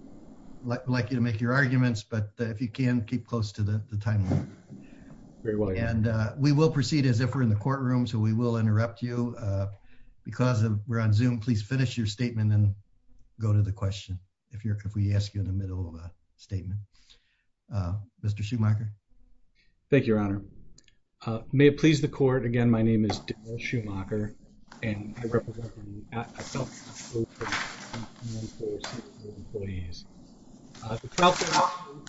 I'd like you to make your arguments, but if you can, keep close to the timeline. And we will proceed as if we're in the courtroom, so we will interrupt you. Because we're on Zoom, please finish your statement and go to the question, if we ask you in the middle of a statement. Mr. Schumacher. Thank you, and welcome to the court. Again, my name is Daryl Schumacher, and I represent a 12-year-old firm, and one of our senior employees. The 12-year-old firm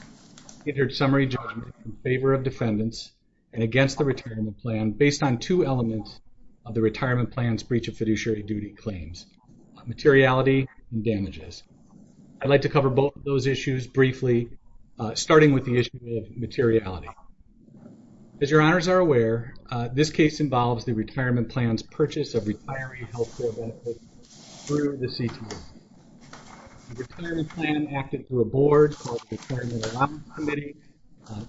entered summary judgment in favor of defendants and against the retirement plan based on two elements of the retirement plan's breach of fiduciary duty claims, materiality and damages. I'd like to cover both of those issues briefly, starting with the issue of materiality. As your honors are aware, this case involves the retirement plan's purchase of retiree health care benefits through the CTA. The retirement plan acted through a board called the Retirement Allowance Committee.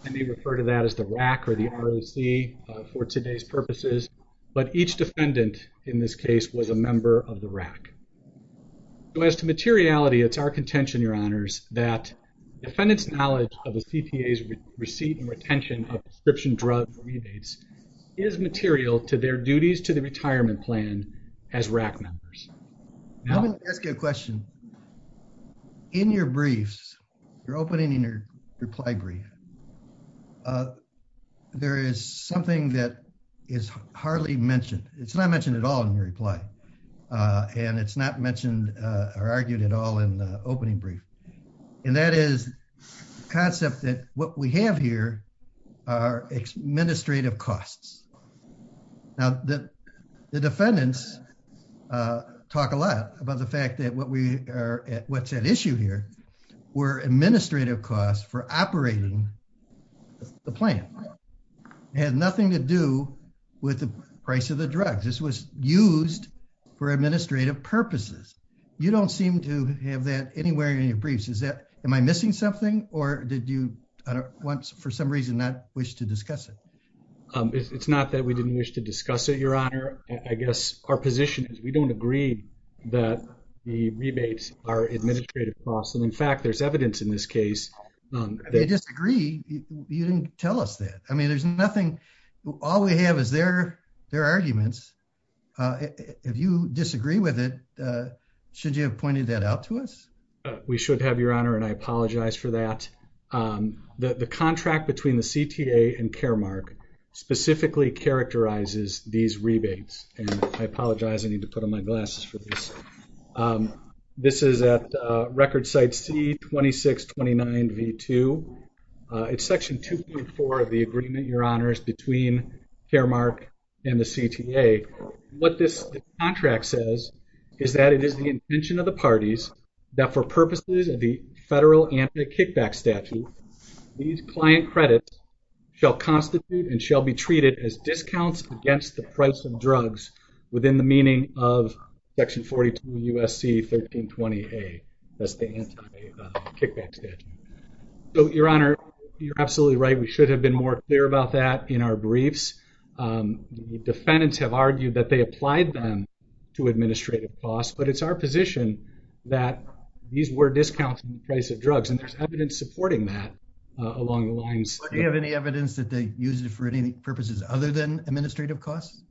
I may refer to that as the RAC or the ROC for today's purposes, but each defendant in this case was a member of the RAC. As to materiality, it's our intention, your honors, that defendants' knowledge of the CTA's receipt and retention of prescription drug rebates is material to their duties to the retirement plan as RAC members. I'm going to ask you a question. In your briefs, your opening and your reply brief, there is something that is hardly mentioned. It's not mentioned at all in your reply, and it's not mentioned or argued at all in the opening brief, and that is the concept that what we have here are administrative costs. Now, the defendants talk a lot about the fact that what's at issue here were administrative costs for operating the plan. It had nothing to do with the price of the drugs. This was used for administrative purposes. You don't seem to have that anywhere in your briefs. Am I missing something, or did you, for some reason, not wish to discuss it? It's not that we didn't wish to discuss it, your honor. I guess our position is we don't agree that the rebates are administrative costs, and in fact, there's evidence in this case. They disagree. You didn't tell us that. I mean, there's nothing. All we have is their arguments. If you disagree with it, should you have pointed that out to us? We should have, your honor, and I apologize for that. The contract between the CTA and Caremark specifically characterizes these rebates, and I apologize. I need to put on my glasses for this. This is at record site C2629V2. It's section 2.4 of the agreement, your honors, between Caremark and the CTA. What this contract says is that it is the intention of the parties that for purposes of the federal anti-kickback statute, these client credits shall constitute and shall be treated as discounts against the price of drugs within the meaning of section 42 U.S.C. 1320A. That's the anti-kickback statute. So, your honor, you're absolutely right. We should have been more clear about that in our briefs. The defendants have argued that they applied them to administrative costs, but it's our position that these were discounts in the price of drugs, and there's evidence supporting that along the lines. Do you have any evidence that they used it for any purposes other than administrative costs?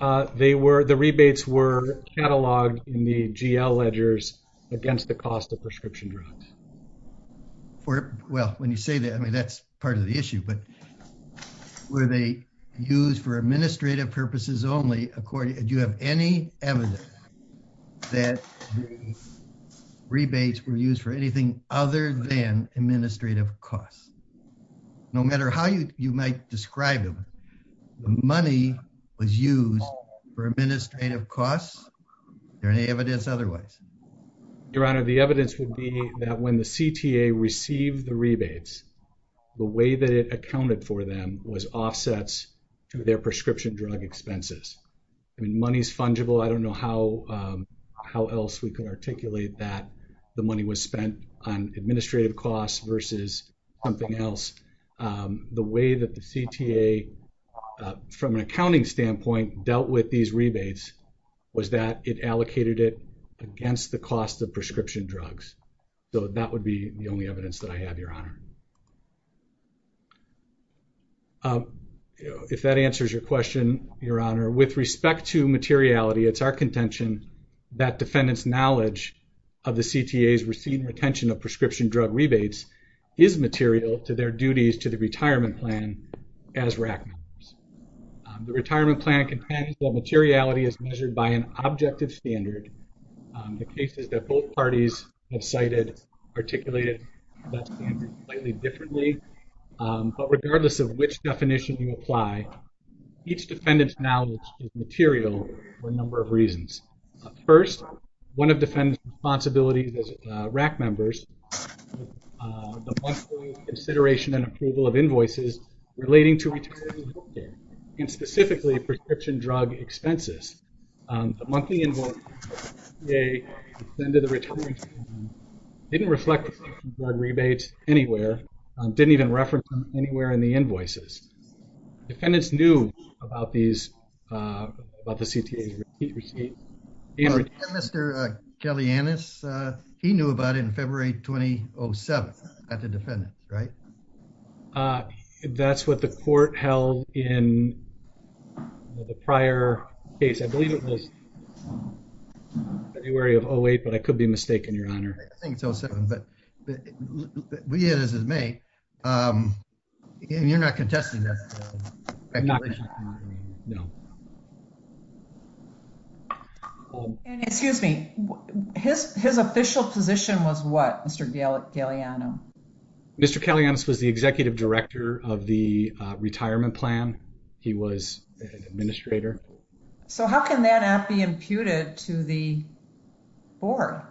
The rebates were cataloged in the GL ledgers against the cost of prescription drugs. Well, when you say that, I mean, that's part of the issue, but were they used for administrative purposes only? Do you have any evidence that the rebates were used for anything other than administrative costs? No matter how you might describe them, the money was used for administrative costs. Is there any evidence otherwise? Your honor, the evidence would be that when the CTA received the rebates, the way that it accounted for them was offsets to their prescription drug expenses. I mean, money's fungible. I don't know how else we can articulate that the money was spent on administrative costs versus something else. The way that the CTA, from an accounting standpoint, dealt with these rebates was that it allocated it against the cost of prescription drugs. So, that would be the only evidence that I have, your honor. If that answers your question, your honor, with respect to materiality, it's our contention that defendant's knowledge of the CTA's received retention of prescription drug rebates is material to their duties to the retirement plan as RAC members. The retirement plan contains that materiality is measured by an objective standard. The cases that both parties have cited articulated that standard slightly differently, but regardless of which definition you apply, each defendant's knowledge is material for a number of reasons. First, one of defendant's responsibilities as RAC members, the monthly consideration and approval of invoices relating to retirement healthcare, and specifically prescription drug expenses. The monthly invoices, the CTA extended the retirement plan, didn't reflect the prescription drug rebates anywhere, didn't even reference them anywhere in the invoices. Defendants knew about these, about the CTA's receipt. Mr. Kellyannis, he knew about it in February 2007. That's a defendant, right? That's what the court held in the prior case. I believe it was February of 08, but I could be mistaken, your honor. I think it's 07, but we as his mate, and you're not contesting that speculation? No. And excuse me, his official position was what, Mr. Kellyannis? Mr. Kellyannis was the executive director of the retirement plan. He was an administrator. So how can that not be imputed to the board?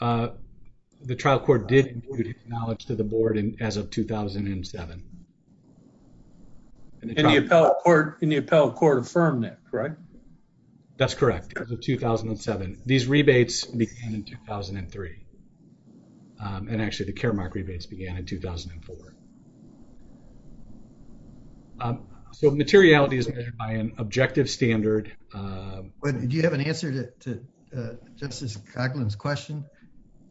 The trial court did impute his knowledge to the board as of 2007. And the appellate court affirmed that, correct? That's correct. As of 2007. These rebates began in 2003. And actually the Caremark rebates began in 2004. So materiality is measured by an objective standard. Do you have an answer to Justice Coughlin's question?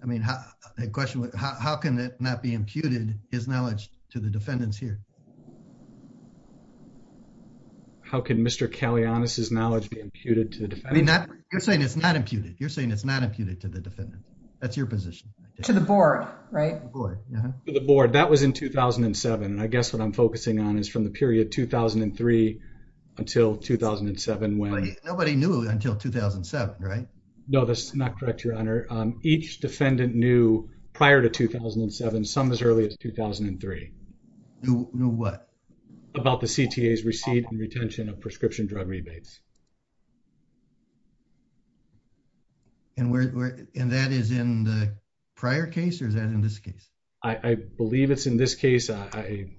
I mean, a question, how can it not be imputed, his knowledge, to the defendants here? How can Mr. Kellyannis' knowledge be imputed to the defendants? You're saying it's not imputed. You're saying it's not imputed to the defendants. That's your position. To the board, right? To the board. That was in 2007. And I guess what I'm focusing on is from the period 2003 until 2007. Nobody knew until 2007, right? No, that's not correct, your honor. Each defendant knew prior to 2007, some as early as 2003. Knew what? About the CTA's receipt and retention of prescription drug rebates. And that is in the prior case or is that in this case? I believe it's in this case. I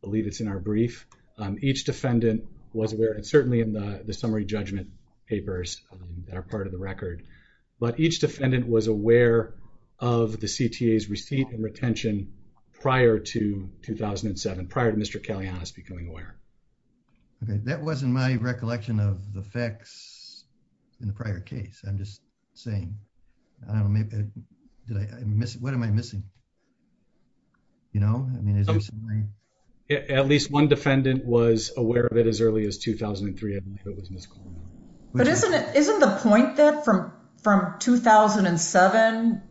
believe it's in our brief. Each defendant was aware and certainly in the summary judgment papers that are part of the record. But each defendant was aware of the CTA's receipt and retention prior to 2007, prior to Mr. Kellyannis becoming aware. Okay, that wasn't my recollection of the facts in the prior case. I'm just saying. I don't know, what am I missing? You know, I mean, is there something? At least one defendant was aware of it as early as 2003. But isn't it, isn't the point that from 2007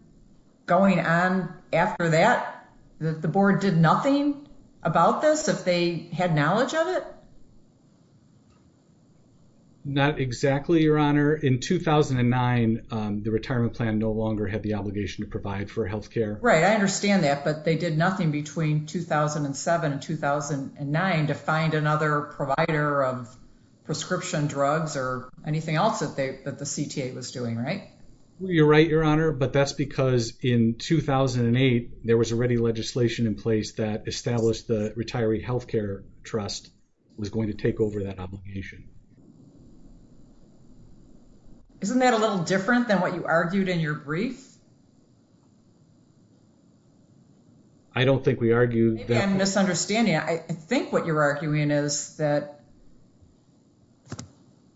going on after that, that the board did nothing about this if they had knowledge of it? Not exactly, your honor. In 2009, the retirement plan no longer had the obligation to provide for health care. Right, I understand that. But they did nothing between 2007 and 2009 to find another provider of prescription drugs or anything else that the CTA was doing, right? You're right, your honor. But that's because in 2008, there was already legislation in place that established the retiree health care trust was going to take over that obligation. Isn't that a little different than what you argued in your brief? I don't think we argue that. Maybe I'm misunderstanding. I think what you're arguing is that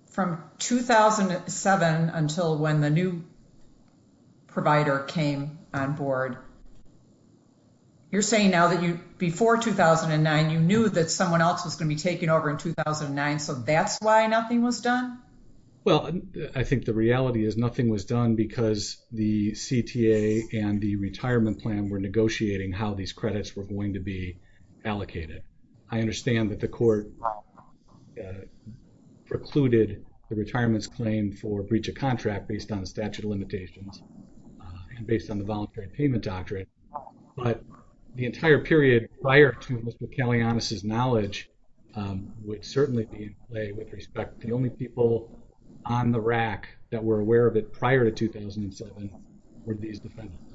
from 2007 until when the new provider came on board, you're saying now that you, before 2009, you knew that someone else was going to be taking over in 2009, so that's why nothing was done? Well, I think the reality is nothing was done because the CTA and the retirement plan were negotiating how these credits were going to be allocated. I understand that the court precluded the retirement's claim for breach of contract based on statute of limitations and based on the voluntary payment doctrine. But the entire period prior to Mr. Kalianas' knowledge would certainly be in play with respect. The only people on the rack that were aware of it prior to 2007 were these defendants.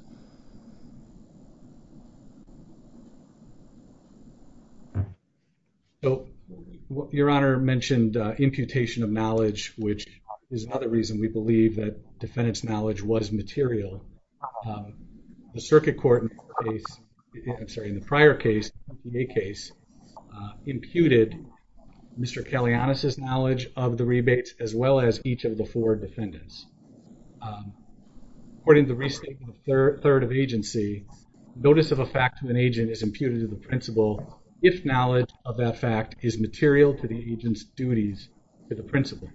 Your honor mentioned imputation of knowledge, which is another reason we believe that defendant's knowledge was material. The circuit court in the prior case, the CTA case, imputed Mr. Kalianas' knowledge of the rebates as well as each of the four defendants. According to the restatement of third of agency, notice of a fact to an agent is imputed to the principal if knowledge of that fact is material to the agent's duties to the principal.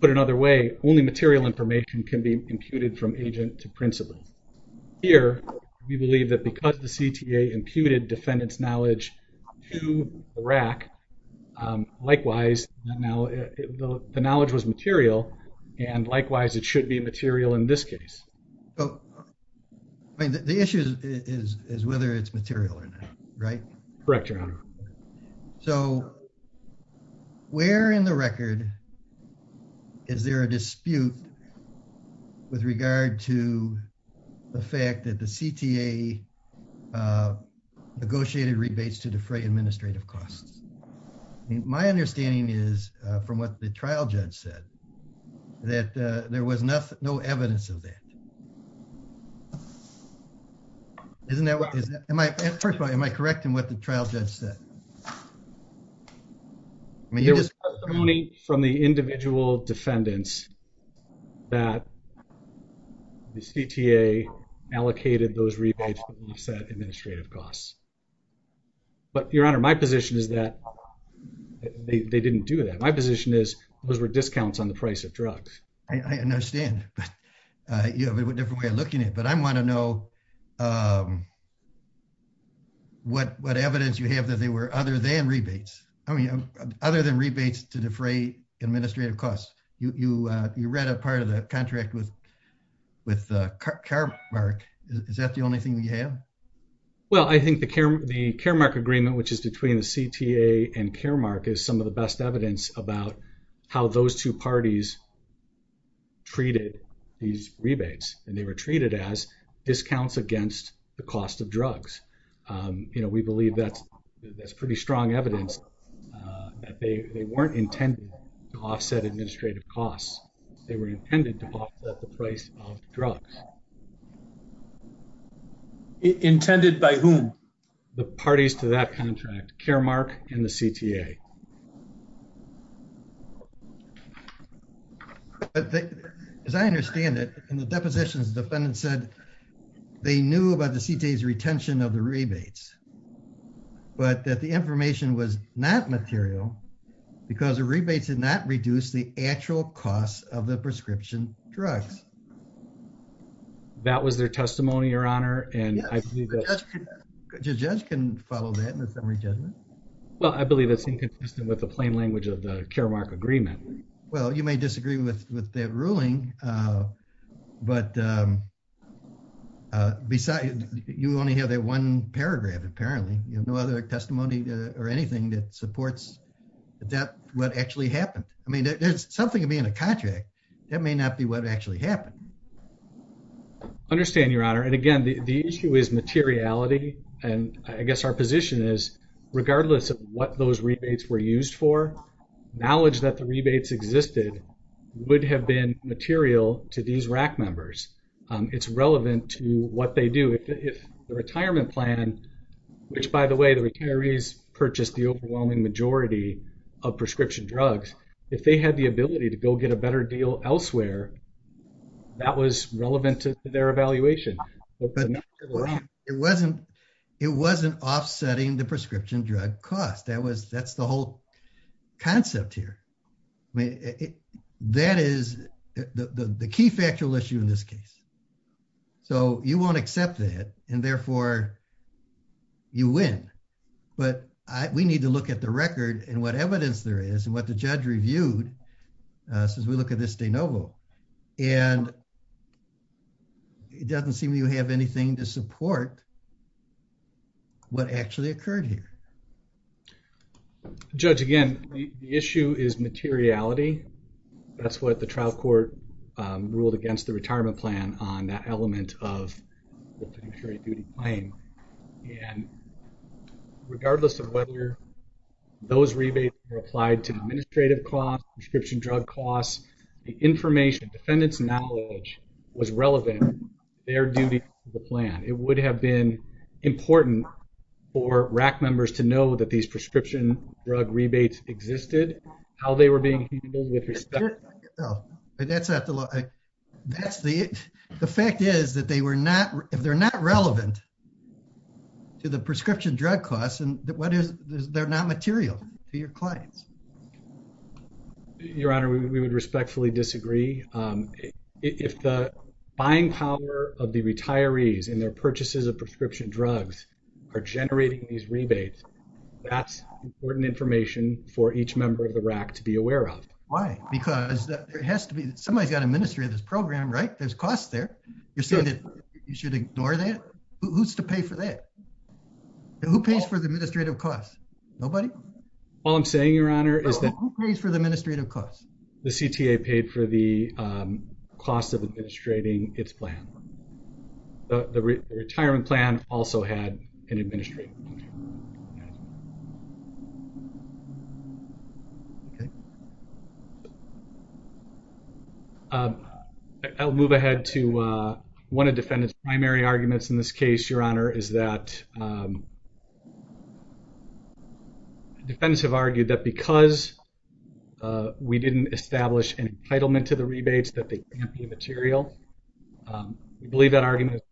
Put another way, only material information can be imputed from agent to principal. Here, we believe that because the CTA imputed defendant's knowledge to the rack, likewise, the knowledge was material and likewise it should be material in this case. The issue is whether it's material or not, right? Correct, your honor. So, where in the record is there a dispute with regard to the fact that the CTA negotiated rebates to defray administrative costs? My understanding is from what the trial judge said that there was no evidence of that. First of all, am I correcting what the trial judge said? There was testimony from the individual defendants that the CTA allocated those rebates to offset administrative costs. But your honor, my position is that they didn't do that. My position is those were discounts on the price of drugs. I understand, but you have a different way of looking at it. But I want to know what evidence you have that they were other than rebates. I mean, other than rebates to defray administrative costs. You read a part of the contract with Caremark. Is that the only thing that you have? Well, I think the Caremark agreement, which is between the CTA and Caremark, is some of the best evidence about how those two parties treated these rebates. And they were treated as discounts against the cost of drugs. We believe that's pretty strong evidence that they weren't intended to offset administrative costs. They were intended to offset the price of drugs. Intended by whom? The parties to that contract, Caremark and the CTA. But as I understand it, in the depositions, the defendant said they knew about the CTA's retention of the rebates. But that the information was not material because the rebates did not reduce the actual cost of the prescription drugs. That was their testimony, your honor. And I believe that the judge can follow that in the summary judgment. Well, I believe it's inconsistent with the plain language of the Caremark agreement. Well, you may disagree with that ruling, but you only have that one paragraph, apparently. No other testimony or anything that supports what actually happened. I mean, there's something to be in a contract. That may not be what actually happened. I understand, your honor. And again, the issue is materiality. And I guess our position is, regardless of what those rebates were used for, knowledge that the rebates existed would have been material to these RAC members. It's relevant to what they do. If the retirement plan, which by the way, the retirees purchased the overwhelming majority of prescription drugs. If they had the ability to go get a better deal elsewhere, that was relevant to their evaluation. But it wasn't offsetting the prescription drug cost. That's the whole concept here. I mean, that is the key factual issue in this case. So you won't accept that, and therefore you win. But we need to look at the record and what evidence there is, and what the judge reviewed since we look at this de novo. And it doesn't seem you have anything to support what actually occurred here. Judge, again, the issue is materiality. That's what the trial court ruled against the retirement plan on that element of the duty claim. And regardless of whether those rebates were applied to administrative costs, prescription drug costs, the information, defendant's knowledge was relevant to their duty to the plan. It would have been important for RAC members to know that these prescription drug rebates existed, how they were being handled with respect. No, that's not the law. The fact is that if they're not relevant to the prescription drug costs, they're not material to your clients. Your Honor, we would respectfully disagree. If the buying power of the retirees and their purchases of prescription drugs are generating these rebates, that's important information for each member of the RAC to be aware of. Why? Because somebody's got to administrate this program, right? There's costs there. You're saying that you should ignore that? Who's to pay for that? Who pays for the administrative costs? Nobody? All I'm saying, Your Honor, is that... Who pays for the administrative costs? The CTA paid for the cost of administrating its plan. The retirement plan also had an administrative cost. I'll move ahead to one of defendant's primary arguments in this case, Your Honor, is that... Defendants have argued that because we didn't establish an entitlement to the rebates, that they can't be material. We believe that argument is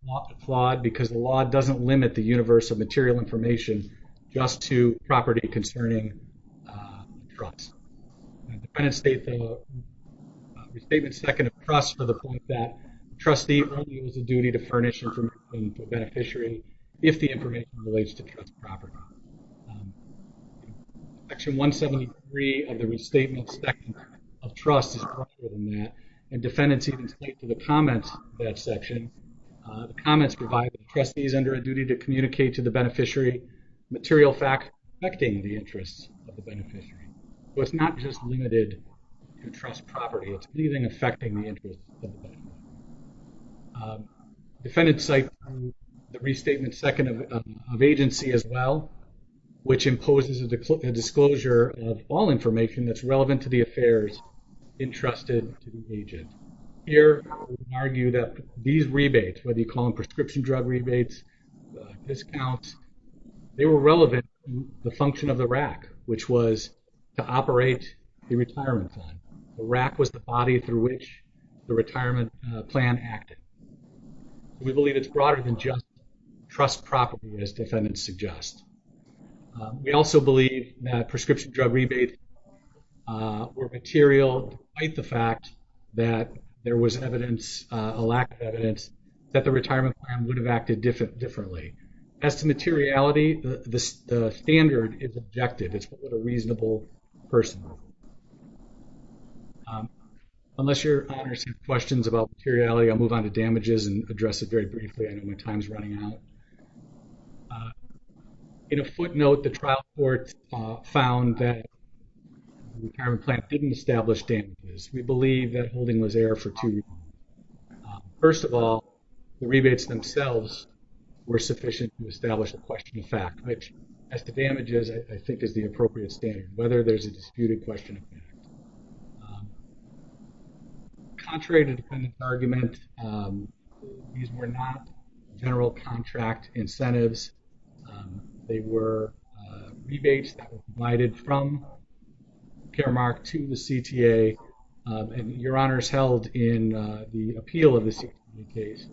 flawed because the law doesn't limit the universe of material information just to property concerning trust. Defendants state the restatement second of trust for the point that the trustee only has a duty to furnish information to a beneficiary if the information relates to trust property. Section 173 of the restatement second of trust is broader than that. And defendants even state to the comments of that section, the comments provide that the trustee is under a duty to communicate to the beneficiary material facts affecting the interests of the beneficiary. So it's not just limited to trust property. It's anything affecting the interests of the beneficiary. Defendants cite the restatement second of agency as well, which imposes a disclosure of all information that's relevant to the affairs entrusted to the agent. Here, we argue that these rebates, whether you call them prescription drug rebates, discounts, they were relevant to the function of the RAC, which was to operate the retirement fund. The RAC was the body through which the retirement plan acted. We believe it's broader than just trust property as defendants suggest. We also believe that prescription drug rebates were material despite the fact that there was evidence, a lack of evidence that the retirement plan would have acted differently. As to materiality, the standard is objective. It's what a reasonable person. Unless your honors have questions about materiality, I'll move on to damages and address it very briefly. I know my time's running out. In a footnote, the trial court found that the retirement plan didn't establish damages. We believe that holding was error for two reasons. First of all, the rebates themselves were sufficient to establish a question of fact, which as to damages, I think is the appropriate standard, whether there's a disputed question of fact. Contrary to defendant's argument, these were not general contract incentives. They were rebates that were provided from Caremark to the CTA. Your honors held in the appeal of the CTA case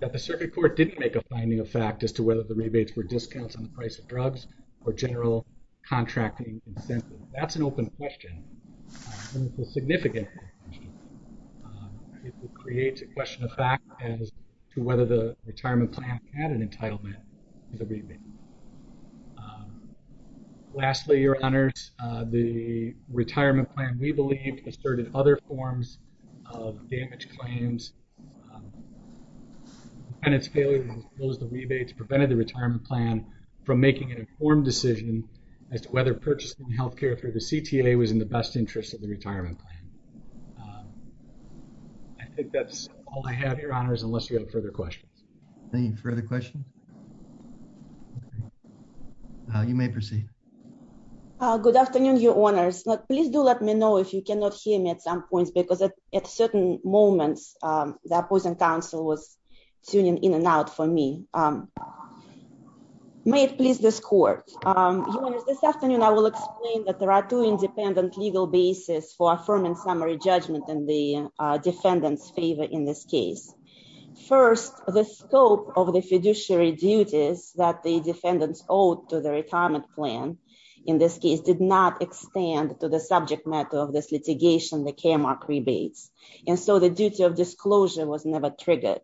that the circuit court didn't make a finding of fact as to whether the rebates were discounts on the price of drugs or general contracting incentives. That's an open question. And it's a significant question. It creates a question of fact as to whether the retirement plan had an entitlement to the rebate. Lastly, your honors, the retirement plan, we believe, asserted other forms of damage claims. Defendant's failure to disclose the rebates prevented the retirement plan from making an informed decision as to whether purchasing healthcare through the CTA was in the best interest of the retirement plan. I think that's all I have, your honors, unless you have further questions. Any further questions? You may proceed. Good afternoon, your honors. Please do let me know if you cannot hear me at some points because at certain moments, the opposing counsel was tuning in and out for me. May it please this court. Your honors, this afternoon, I will explain that there are two independent legal basis for affirming summary judgment in the defendant's favor in this case. First, the scope of the fiduciary duties that the defendant's owed to the retirement plan, in this case, did not extend to the subject matter of this litigation, the KMRC rebates. And so the duty of disclosure was never triggered.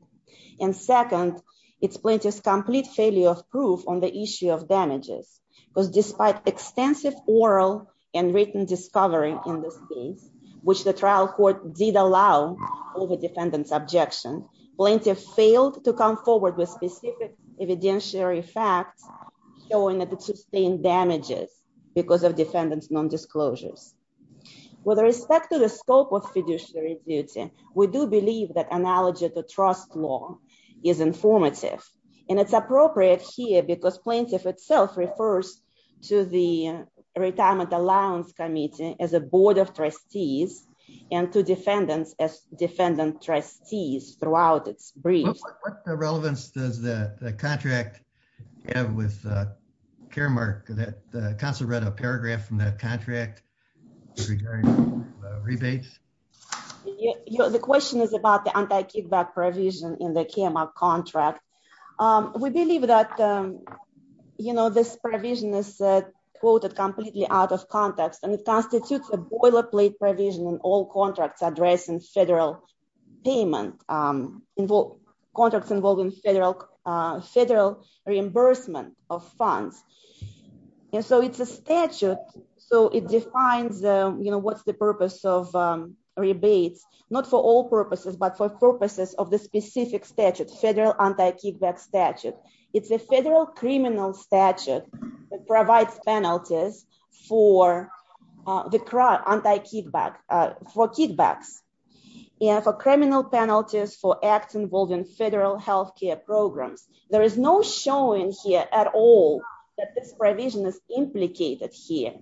And second, it's plaintiff's complete failure of proof on the issue of damages, because despite extensive oral and written discovery in this case, which the trial court did allow over defendant's objection, plaintiff failed to come forward with specific evidentiary facts showing that it sustained damages because of defendant's non-disclosures. With respect to the scope of fiduciary duty, we do believe that analogy of the trust law is informative. And it's appropriate here because plaintiff itself refers to the Retirement Allowance Committee as a board of trustees and to defendants as defendant trustees throughout its briefs. What relevance does the contract have with KMRC? The counsel read a paragraph from that contract regarding rebates. The question is about the anti-kickback provision in the KMRC contract. We believe that this provision is quoted completely out of context and it constitutes a boilerplate provision in all contracts addressing federal payment, contracts involving federal reimbursement of funds. And so it's a statute, so it defines what's the purpose of rebates, not for all purposes, but for purposes of the specific statute, the kickback statute. It's a federal criminal statute that provides penalties for kickbacks and for criminal penalties for acts involving federal healthcare programs. There is no showing here at all that this provision is implicated here.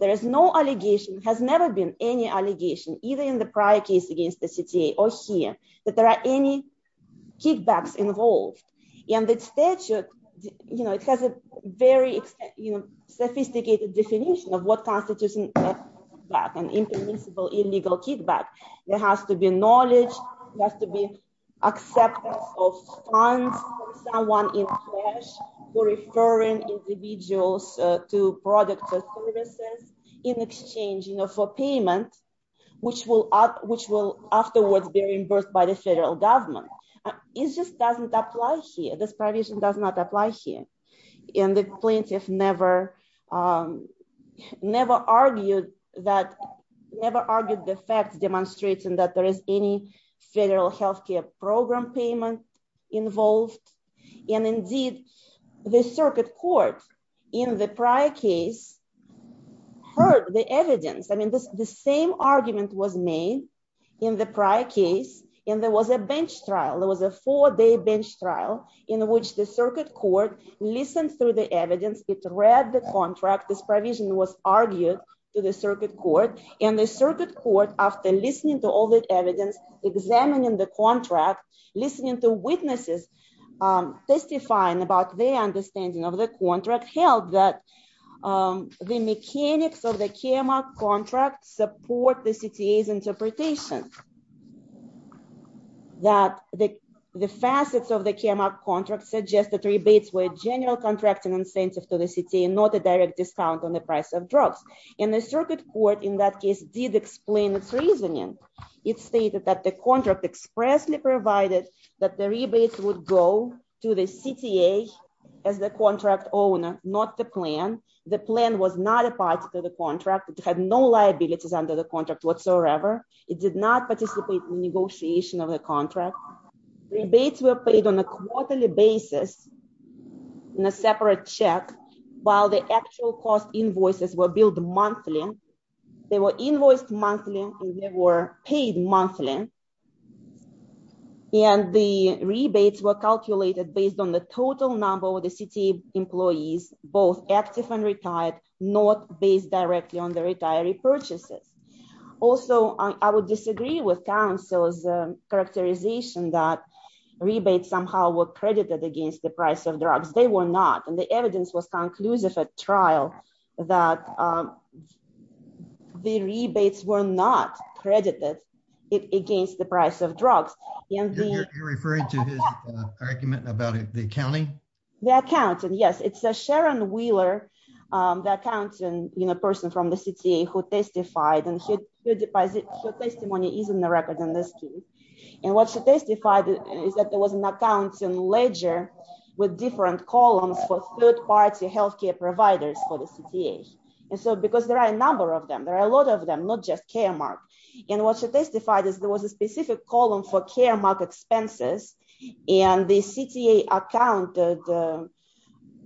There is no allegation, has never been any allegation either in the prior case against the CTA or here that there are any kickbacks involved. And the statute, it has a very sophisticated definition of what constitutes a kickback, an impermissible illegal kickback. There has to be knowledge, there has to be acceptance of funds from someone in cash in exchange for payment, which will afterwards be reimbursed by the federal government. It just doesn't apply here. This provision does not apply here. And the plaintiff never argued that, never argued the facts demonstrating that there is any federal healthcare program payment involved. And indeed the circuit court in the prior case heard the evidence. I mean, the same argument was made in the prior case when there was a bench trial. There was a four-day bench trial in which the circuit court listened through the evidence. It read the contract. This provision was argued to the circuit court and the circuit court, after listening to all the evidence, examining the contract, listening to witnesses testifying about their understanding of the contract, held that the mechanics of the KMR contract support the CTA's interpretation. That the facets of the KMR contract suggest that rebates were a general contracting incentive to the CTA and not a direct discount on the price of drugs. And the circuit court in that case did explain its reasoning. It stated that the contract expressly provided that the rebates would go to the CTA as the contract owner, not the plan. The plan was not a part of the contract. It had no liabilities under the contract whatsoever. It did not participate in negotiation of the contract. Rebates were paid on a quarterly basis in a separate check while the actual cost invoices were billed monthly. They were invoiced monthly and they were paid monthly. And the rebates were calculated based on the total number of the CTA employees, both active and retired, not based directly on the retiree purchases. Also, I would disagree with counsel's characterization that rebates somehow were credited against the price of drugs. They were not. And the evidence was conclusive at trial that the rebates were not credited against the price of drugs. And the- You're referring to his argument about the accounting? The accountant, yes. It's Sharon Wheeler, the accountant, the person from the CTA who testified. And her testimony is in the record in this case. And what she testified is that there was an accounting ledger with different columns for third-party healthcare providers for the CTA. And so, because there are a number of them, there are a lot of them, not just Caremark. And what she testified is there was a specific column for Caremark expenses and the CTA accounted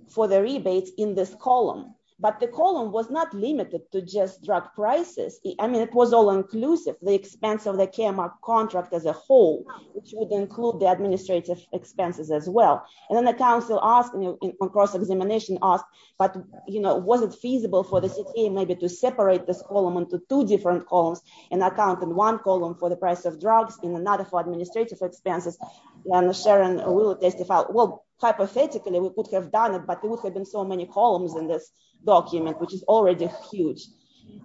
for the rebates in this column. But the column was not limited to just drug prices. I mean, it was all inclusive, the expense of the Caremark contract as a whole, which would include the administrative expenses as well. And then the counsel asked, on cross-examination asked, but was it feasible for the CTA maybe to separate this column into two different columns and account in one column for the price of drugs and another for administrative expenses? And Sharon Wheeler testified, well, hypothetically, we could have done it, but there would have been so many columns in this document, which is already huge.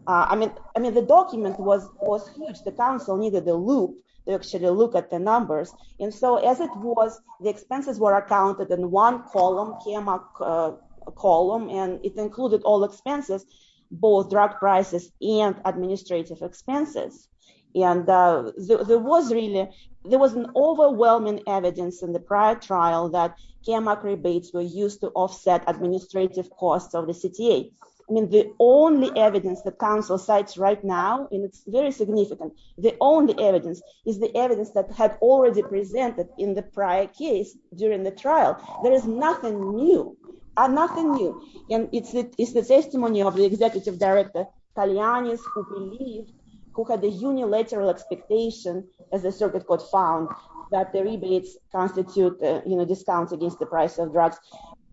I mean, the document was huge. The counsel needed the loop to actually look at the numbers. And so, as it was, the expenses were accounted in one column, Caremark column, and it included all expenses, both drug prices and administrative expenses. And there was really, there was an overwhelming evidence in the prior trial that Caremark rebates were used to offset administrative costs of the CTA. I mean, the only evidence that counsel cites right now, and it's very significant, the only evidence is the evidence that had already presented in the prior case during the trial. There is nothing new, nothing new. And it's the testimony of the executive director, Talianis, who believed, who had the unilateral expectation, as the circuit court found, that the rebates constitute a discount against the price of drugs.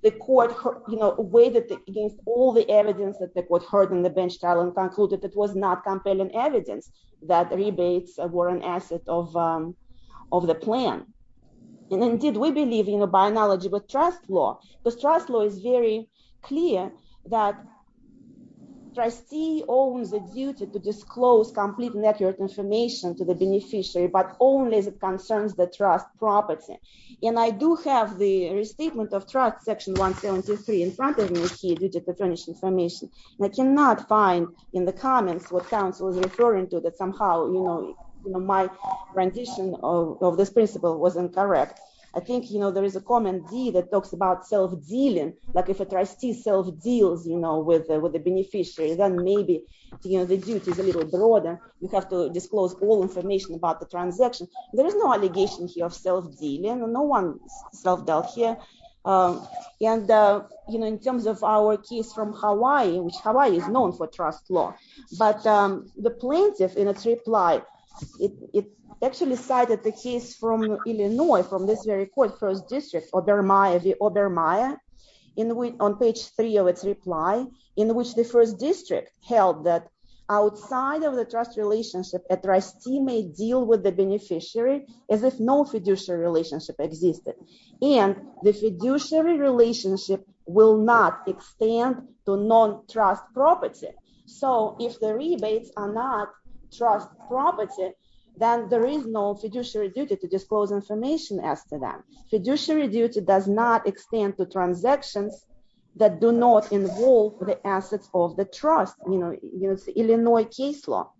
The court weighed it against all the evidence that the court heard in the bench trial and concluded it was not compelling evidence that rebates were an asset of the plan. And indeed, we believe, by analogy with trust law, because trust law is very clear that trustee owns the duty to disclose complete and accurate information to the beneficiary, but only as it concerns the trust property. And I do have the restatement of trust, section 173 in front of me here, due to patronage information. And I cannot find in the comments what counsel was referring to, that somehow my rendition of this principle was incorrect. I think there is a common deed that talks about self-dealing, like if a trustee self-deals with the beneficiary, then maybe the duty is a little broader. You have to disclose all information about the transaction. There is no allegation here of self-dealing. No one self-dealt here. And in terms of our case from Hawaii, which Hawaii is known for trust law, but the plaintiff in its reply, it actually cited the case from Illinois, from this very court, first district, Obermeyer, on page three of its reply, in which the first district held that outside of the trust relationship, a trustee may deal with the beneficiary as if no fiduciary relationship existed. And the fiduciary relationship will not extend to non-trust property. So if the rebates are not trust property, then there is no fiduciary duty to disclose information as to that. Fiduciary duty does not extend to transactions that do not involve the assets of the trust. It's Illinois case law.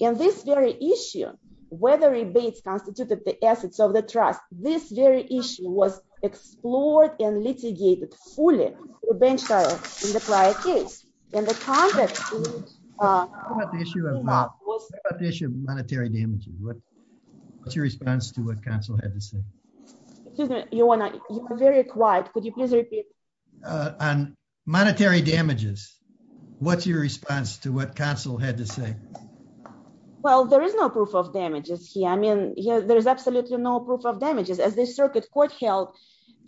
In this very issue, whether rebates constituted the assets of the trust, this very issue was explored and litigated fully in the client case. And the context is- What about the issue of monetary damages? What's your response to what counsel had to say? Excuse me, you're very quiet. Could you please repeat? On monetary damages, what's your response to what counsel had to say? Well, there is no proof of damages here. I mean, there is absolutely no proof of damages. As the circuit court held,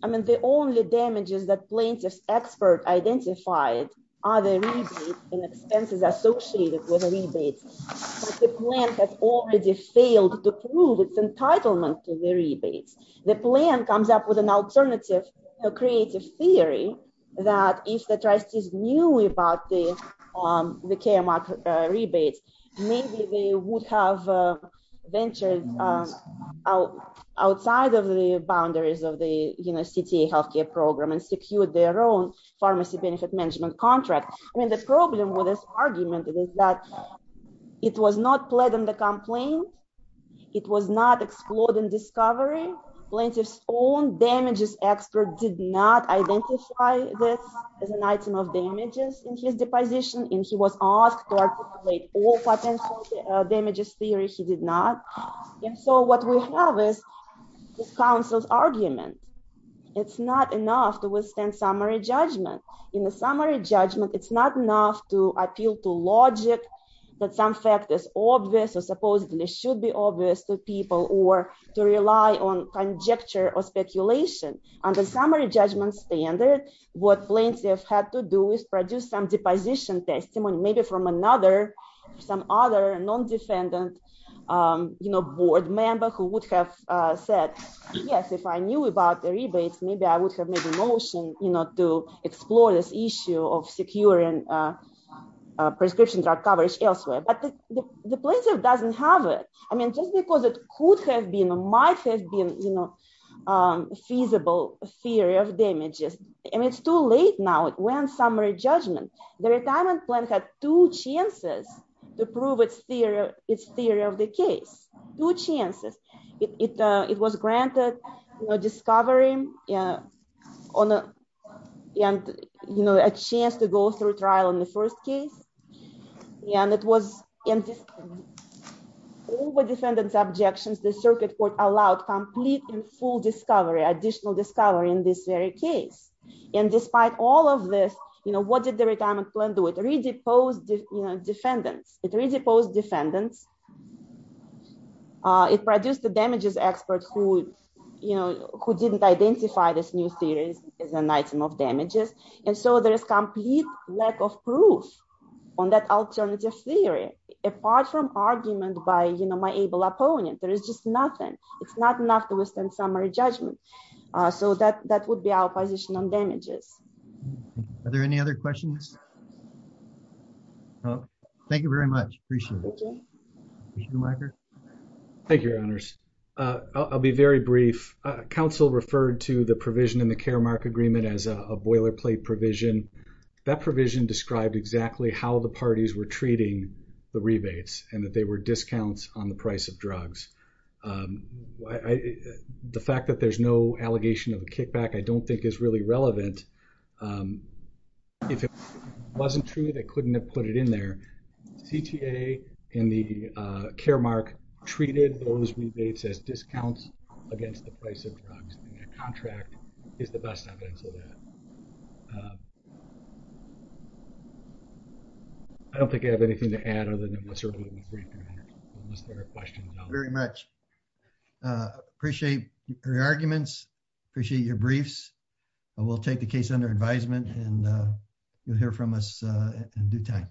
I mean, the only damages that plaintiff's expert identified are the rebates and expenses associated with rebates. But the plan has already failed to prove its entitlement to the rebates. The plan comes up with an alternative, a creative theory that if the trustees knew about the KMRC rebates, maybe they would have ventured outside of the boundaries of the CTA healthcare program and secured their own pharmacy benefit management contract. I mean, the problem with this argument is that it was not pled in the complaint. It was not explored in discovery. Plaintiff's own damages expert did not identify this as an item of damages in his deposition, and he was asked to articulate all potential damages theory. He did not. And so what we have is this counsel's argument. It's not enough to withstand summary judgment. In the summary judgment, it's not enough to appeal to logic or supposedly should be obvious to people or to rely on conjecture or speculation. Under summary judgment standard, what plaintiff had to do is produce some deposition testimony, maybe from another, some other non-defendant board member who would have said, yes, if I knew about the rebates, maybe I would have made a motion to explore this issue of securing prescription drug coverage elsewhere. But the plaintiff doesn't have it. I mean, just because it could have been or might have been feasible theory of damages. I mean, it's too late now. It went summary judgment. The retirement plan had two chances to prove its theory of the case. Two chances. It was granted discovery and a chance to go through trial in the first case. And it was over defendant's objections. The circuit court allowed complete and full discovery, in this very case. And despite all of this, what did the retirement plan do? It re-deposed defendants. It re-deposed defendants. It produced the damages expert who didn't identify this new theory as an item of damages. And so there is complete lack of proof on that alternative theory. Apart from argument by my able opponent, there is just nothing. It's not enough to withstand summary judgment. So that would be our position on damages. Are there any other questions? No. Thank you very much. Appreciate it. Thank you, Your Honor. I'll be very brief. Council referred to the provision in the Karamark agreement as a boilerplate provision. That provision described exactly how the parties were treating the rebates and that they were discounts on the price of drugs. The fact that there's no sort of kickback I don't think is really relevant. If it wasn't true, they couldn't have put it in there. CTA in the Karamark treated those rebates as discounts against the price of drugs. And the contract is the best evidence of that. I don't think I have anything to add other than we're certainly going to be brief here unless there are questions. Very much. Appreciate your arguments. Appreciate your briefs. We'll take the case under advisement and you'll hear from us in due time.